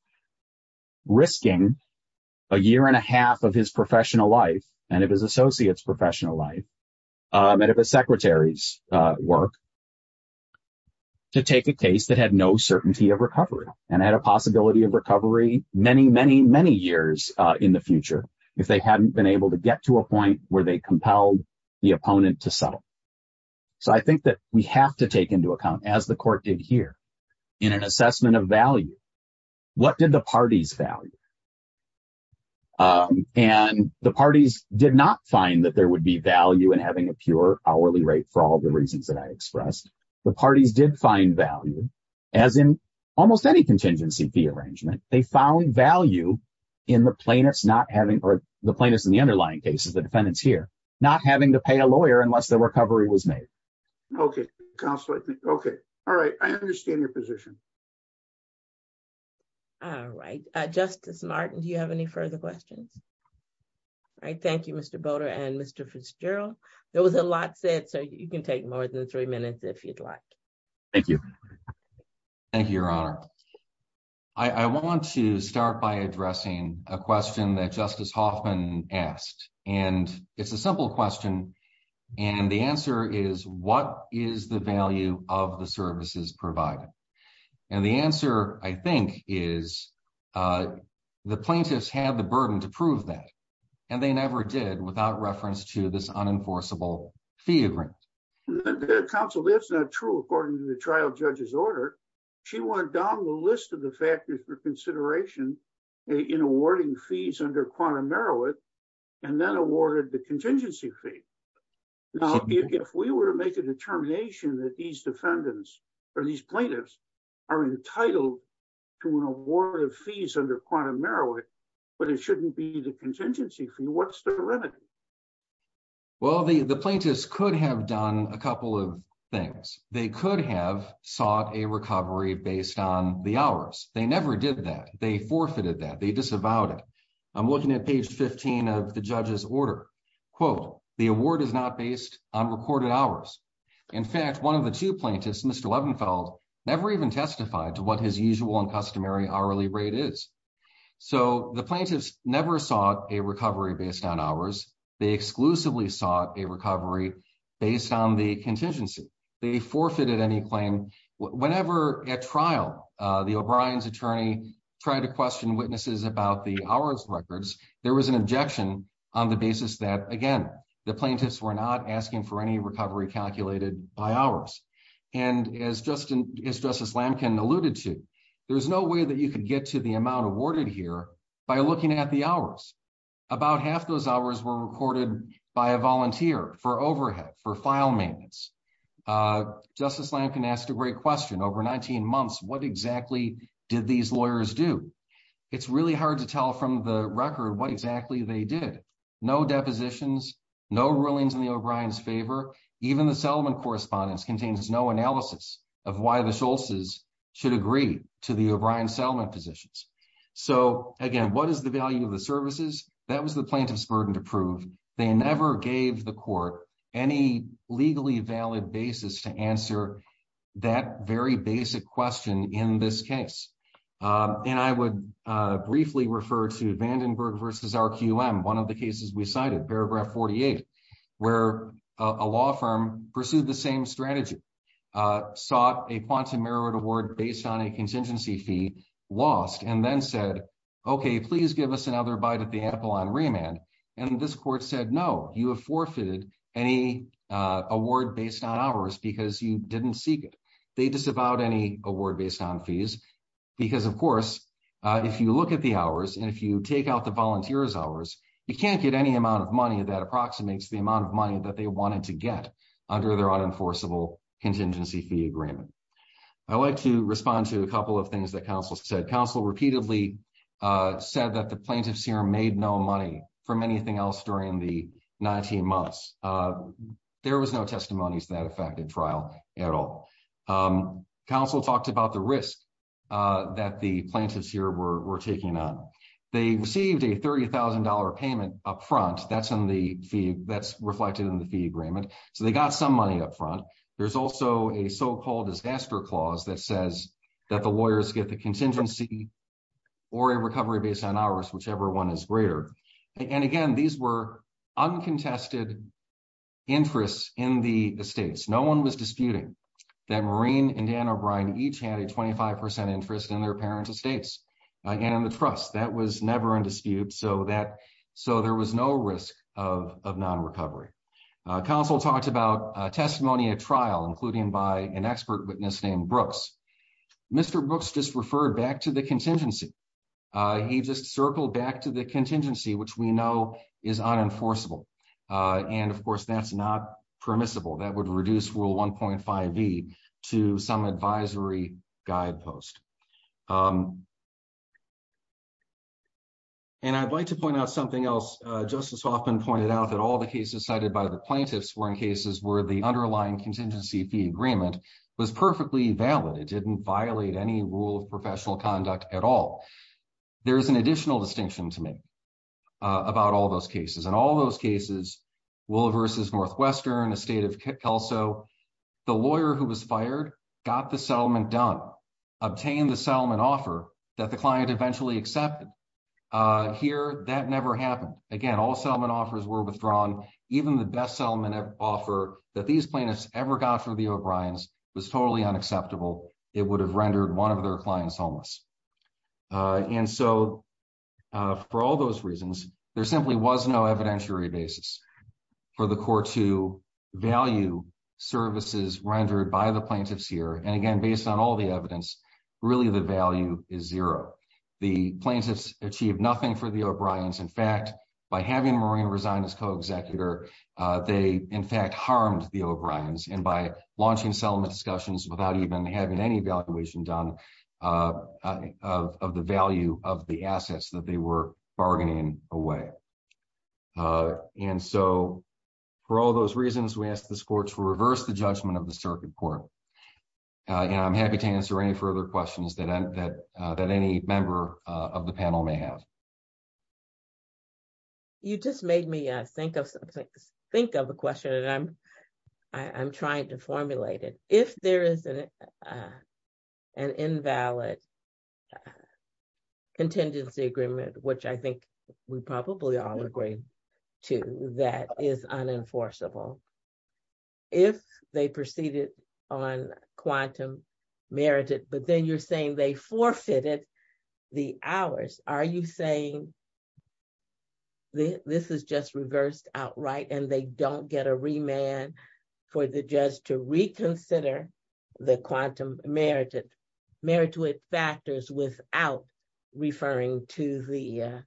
risking a year and a half of his professional life and of his associates' professional life and of his secretary's work to take a case that had no certainty of recovery and had a possibility of recovery many, many, many years in the future if they hadn't been able to get to a point where they compelled the opponent to settle. So I think that we have to take into account as the court did here in an assessment of value, what did the parties value? And the parties did not find that there would be value in having a pure hourly rate for all the reasons that I expressed. The parties did find value as in almost any contingency fee arrangement. They found value in the plaintiffs not having, or the plaintiffs in the underlying cases, the defendants here, not having to pay a lawyer unless the recovery was made. Okay, counsel, I think, okay. All right, I understand your position. All right, Justice Martin, do you have any further questions? All right, thank you, Mr. Boter and Mr. Fitzgerald. There was a lot said, so you can take more than three minutes if you'd like. Thank you. Thank you, Your Honor. I want to start by addressing a question that Justice Hoffman asked, and it's a simple question. And the answer is, what is the value of the services provided? And the answer, I think, is the plaintiffs had the burden to prove that, and they never did without reference to this unenforceable fee agreement. Counsel, that's not true. According to the trial judge's order, she went down the list of the factors for consideration in awarding fees under quantum merit, and then awarded the contingency fee. Now, if we were to make a determination that these defendants or these plaintiffs are entitled to an award of fees under quantum merit, but it shouldn't be the contingency fee, what's the remedy? Well, the plaintiffs could have done a couple of things. They could have sought a recovery based on the hours. They never did that. They forfeited that. They disavowed it. I'm looking at page 15 of the judge's order. Quote, the award is not based on recorded hours. In fact, one of the two plaintiffs, Mr. Levenfeld, never even testified to what his usual and customary hourly rate is. So the plaintiffs never sought a recovery based on hours. They exclusively sought a recovery based on the contingency. They forfeited any claim. Whenever at trial, the O'Brien's attorney tried to question witnesses about the hours records, there was an objection on the basis that, again, the plaintiffs were not asking for any recovery calculated by hours. And as Justice Lamkin alluded to, there's no way that you could get to the amount awarded here by looking at the hours. About half those hours were recorded by a volunteer for overhead, for file maintenance. Justice Lamkin asked a great question. Over 19 months, what exactly did these lawyers do? It's really hard to tell from the record what exactly they did. No depositions, no rulings in the O'Brien's favor. Even the settlement correspondence contains no analysis of why the Schultz's should agree to the O'Brien's settlement positions. So again, what is the value of the services? That was the plaintiff's burden to prove. They never gave the court any legally valid basis to answer that very basic question in this case. And I would briefly refer to Vandenberg versus RQM, one of the cases we cited, paragraph 48, where a law firm pursued the same strategy, sought a quantum merit award based on a contingency fee, lost and then said, okay, please give us another bite at the apple on remand. And this court said, no, you have forfeited any award based on hours because you didn't seek it. They disavowed any award based on fees. Because of course, if you look at the hours and if you take out the volunteers hours, you can't get any amount of money that approximates the amount of money that they wanted to get under their unenforceable contingency fee agreement. I like to respond to a couple of things that counsel said. Counsel repeatedly said that the plaintiff's here made no money from anything else during the 19 months. There was no testimonies that affected trial at all. Counsel talked about the risk that the plaintiffs here were taking on. They received a $30,000 payment upfront. That's reflected in the fee agreement. So they got some money upfront. There's also a so-called disaster clause that says that the lawyers get the contingency or a recovery based on hours, whichever one is greater. And again, these were uncontested interests in the states. No one was disputing that Maureen and Dan O'Brien each had a 25% interest in their parents' estates and in the trust. That was never in dispute. So there was no risk of non-recovery. Counsel talked about testimony at trial, including by an expert witness named Brooks. Mr. Brooks just referred back to the contingency. He just circled back to the contingency, which we know is unenforceable. And of course, that's not permissible. That would reduce Rule 1.5e to some advisory guidepost. And I'd like to point out something else. Justice Hoffman pointed out that all the cases cited by the plaintiffs were in cases where the underlying contingency fee agreement was perfectly valid. It didn't violate any rule of professional conduct at all. There's an additional distinction to make about all those cases. And all those cases, Wooliver v. Northwestern, Estate of Kelso, the lawyer who was fired got the settlement done, obtained the settlement offer that the client eventually accepted. Here, that never happened. Again, all settlement offers were withdrawn. Even the best settlement offer that these plaintiffs ever got for the O'Briens was totally unacceptable. It would have rendered one of their clients homeless. And so for all those reasons, there simply was no evidentiary basis. For the court to value services rendered by the plaintiffs here. And again, based on all the evidence, really the value is zero. The plaintiffs achieved nothing for the O'Briens. In fact, by having Maureen resign as co-executor, they in fact harmed the O'Briens. And by launching settlement discussions without even having any evaluation done of the value of the assets that they were bargaining away. And so for all those reasons, we ask this court to reverse the judgment of the circuit court. And I'm happy to answer any further questions that any member of the panel may have. You just made me think of a question and I'm trying to formulate it. If there is an invalid contingency agreement, which I think we probably all agree to, that is unenforceable. If they proceeded on quantum merited, but then you're saying they forfeited the hours. Are you saying this is just reversed outright and they don't get a remand for the judge to reconsider the quantum merited factors without referring to the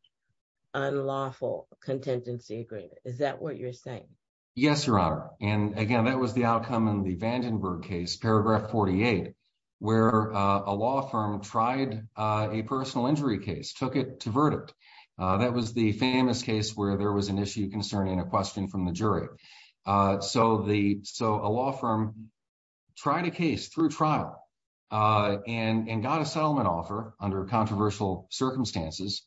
unlawful contingency agreement? Is that what you're saying? Yes, Your Honor. And again, that was the outcome in the Vandenberg case, paragraph 48, where a law firm tried a personal injury case, took it to verdict. That was the famous case where there was an issue concerning a question from the jury. So a law firm tried a case through trial and got a settlement offer under controversial circumstances.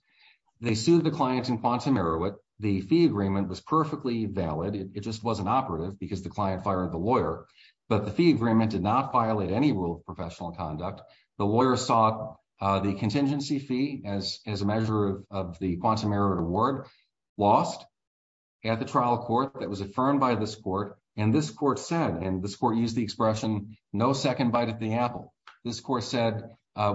They sued the client in quantum merit. The fee agreement was perfectly valid. It just wasn't operative because the client fired the lawyer, but the fee agreement did not violate any rule of professional conduct. The lawyer sought the contingency fee as a measure of the quantum merit award lost at the trial court that was affirmed by this court. And this court said, and this court used the expression, no second bite at the apple. This court said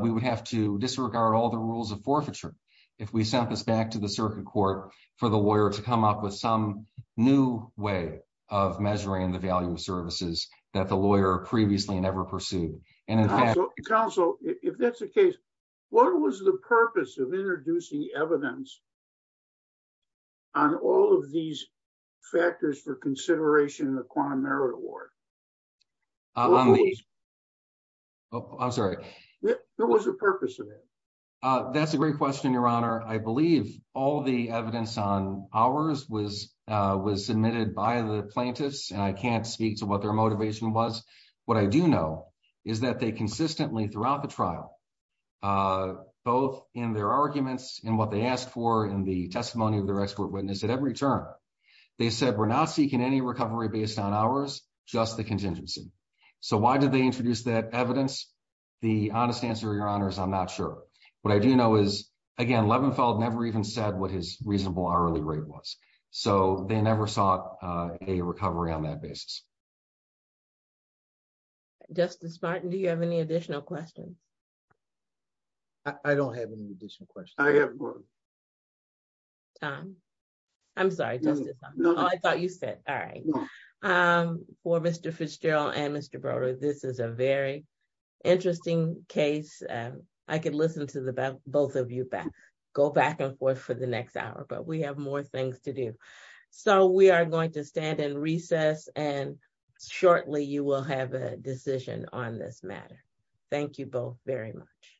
we would have to disregard all the rules of forfeiture if we sent this back to the circuit court for the lawyer to come up with some new way of measuring the value of services that the lawyer previously never pursued. And in fact- Counsel, if that's the case, what was the purpose of introducing evidence on all of these factors for consideration in the quantum merit award? Oh, I'm sorry. What was the purpose of it? That's a great question, Your Honor. I believe all the evidence on ours was submitted by the plaintiffs and I can't speak to what their motivation was. What I do know is that they consistently throughout the trial, both in their arguments and what they asked for in the testimony of their expert witness at every term, they said we're not seeking any recovery based on ours, just the contingency. So why did they introduce that evidence? The honest answer, Your Honor, is I'm not sure. What I do know is, again, Levenfeld never even said what his reasonable hourly rate was. So they never sought a recovery on that basis. Justice Martin, do you have any additional questions? I don't have any additional questions. I have one. Tom, I'm sorry, Justice. Oh, I thought you said, all right. For Mr. Fitzgerald and Mr. Broder, this is a very interesting case. I could listen to the both of you go back and forth for the next hour, but we have more things to do. So we are going to stand in recess and shortly you will have a decision on this matter. Thank you both very much.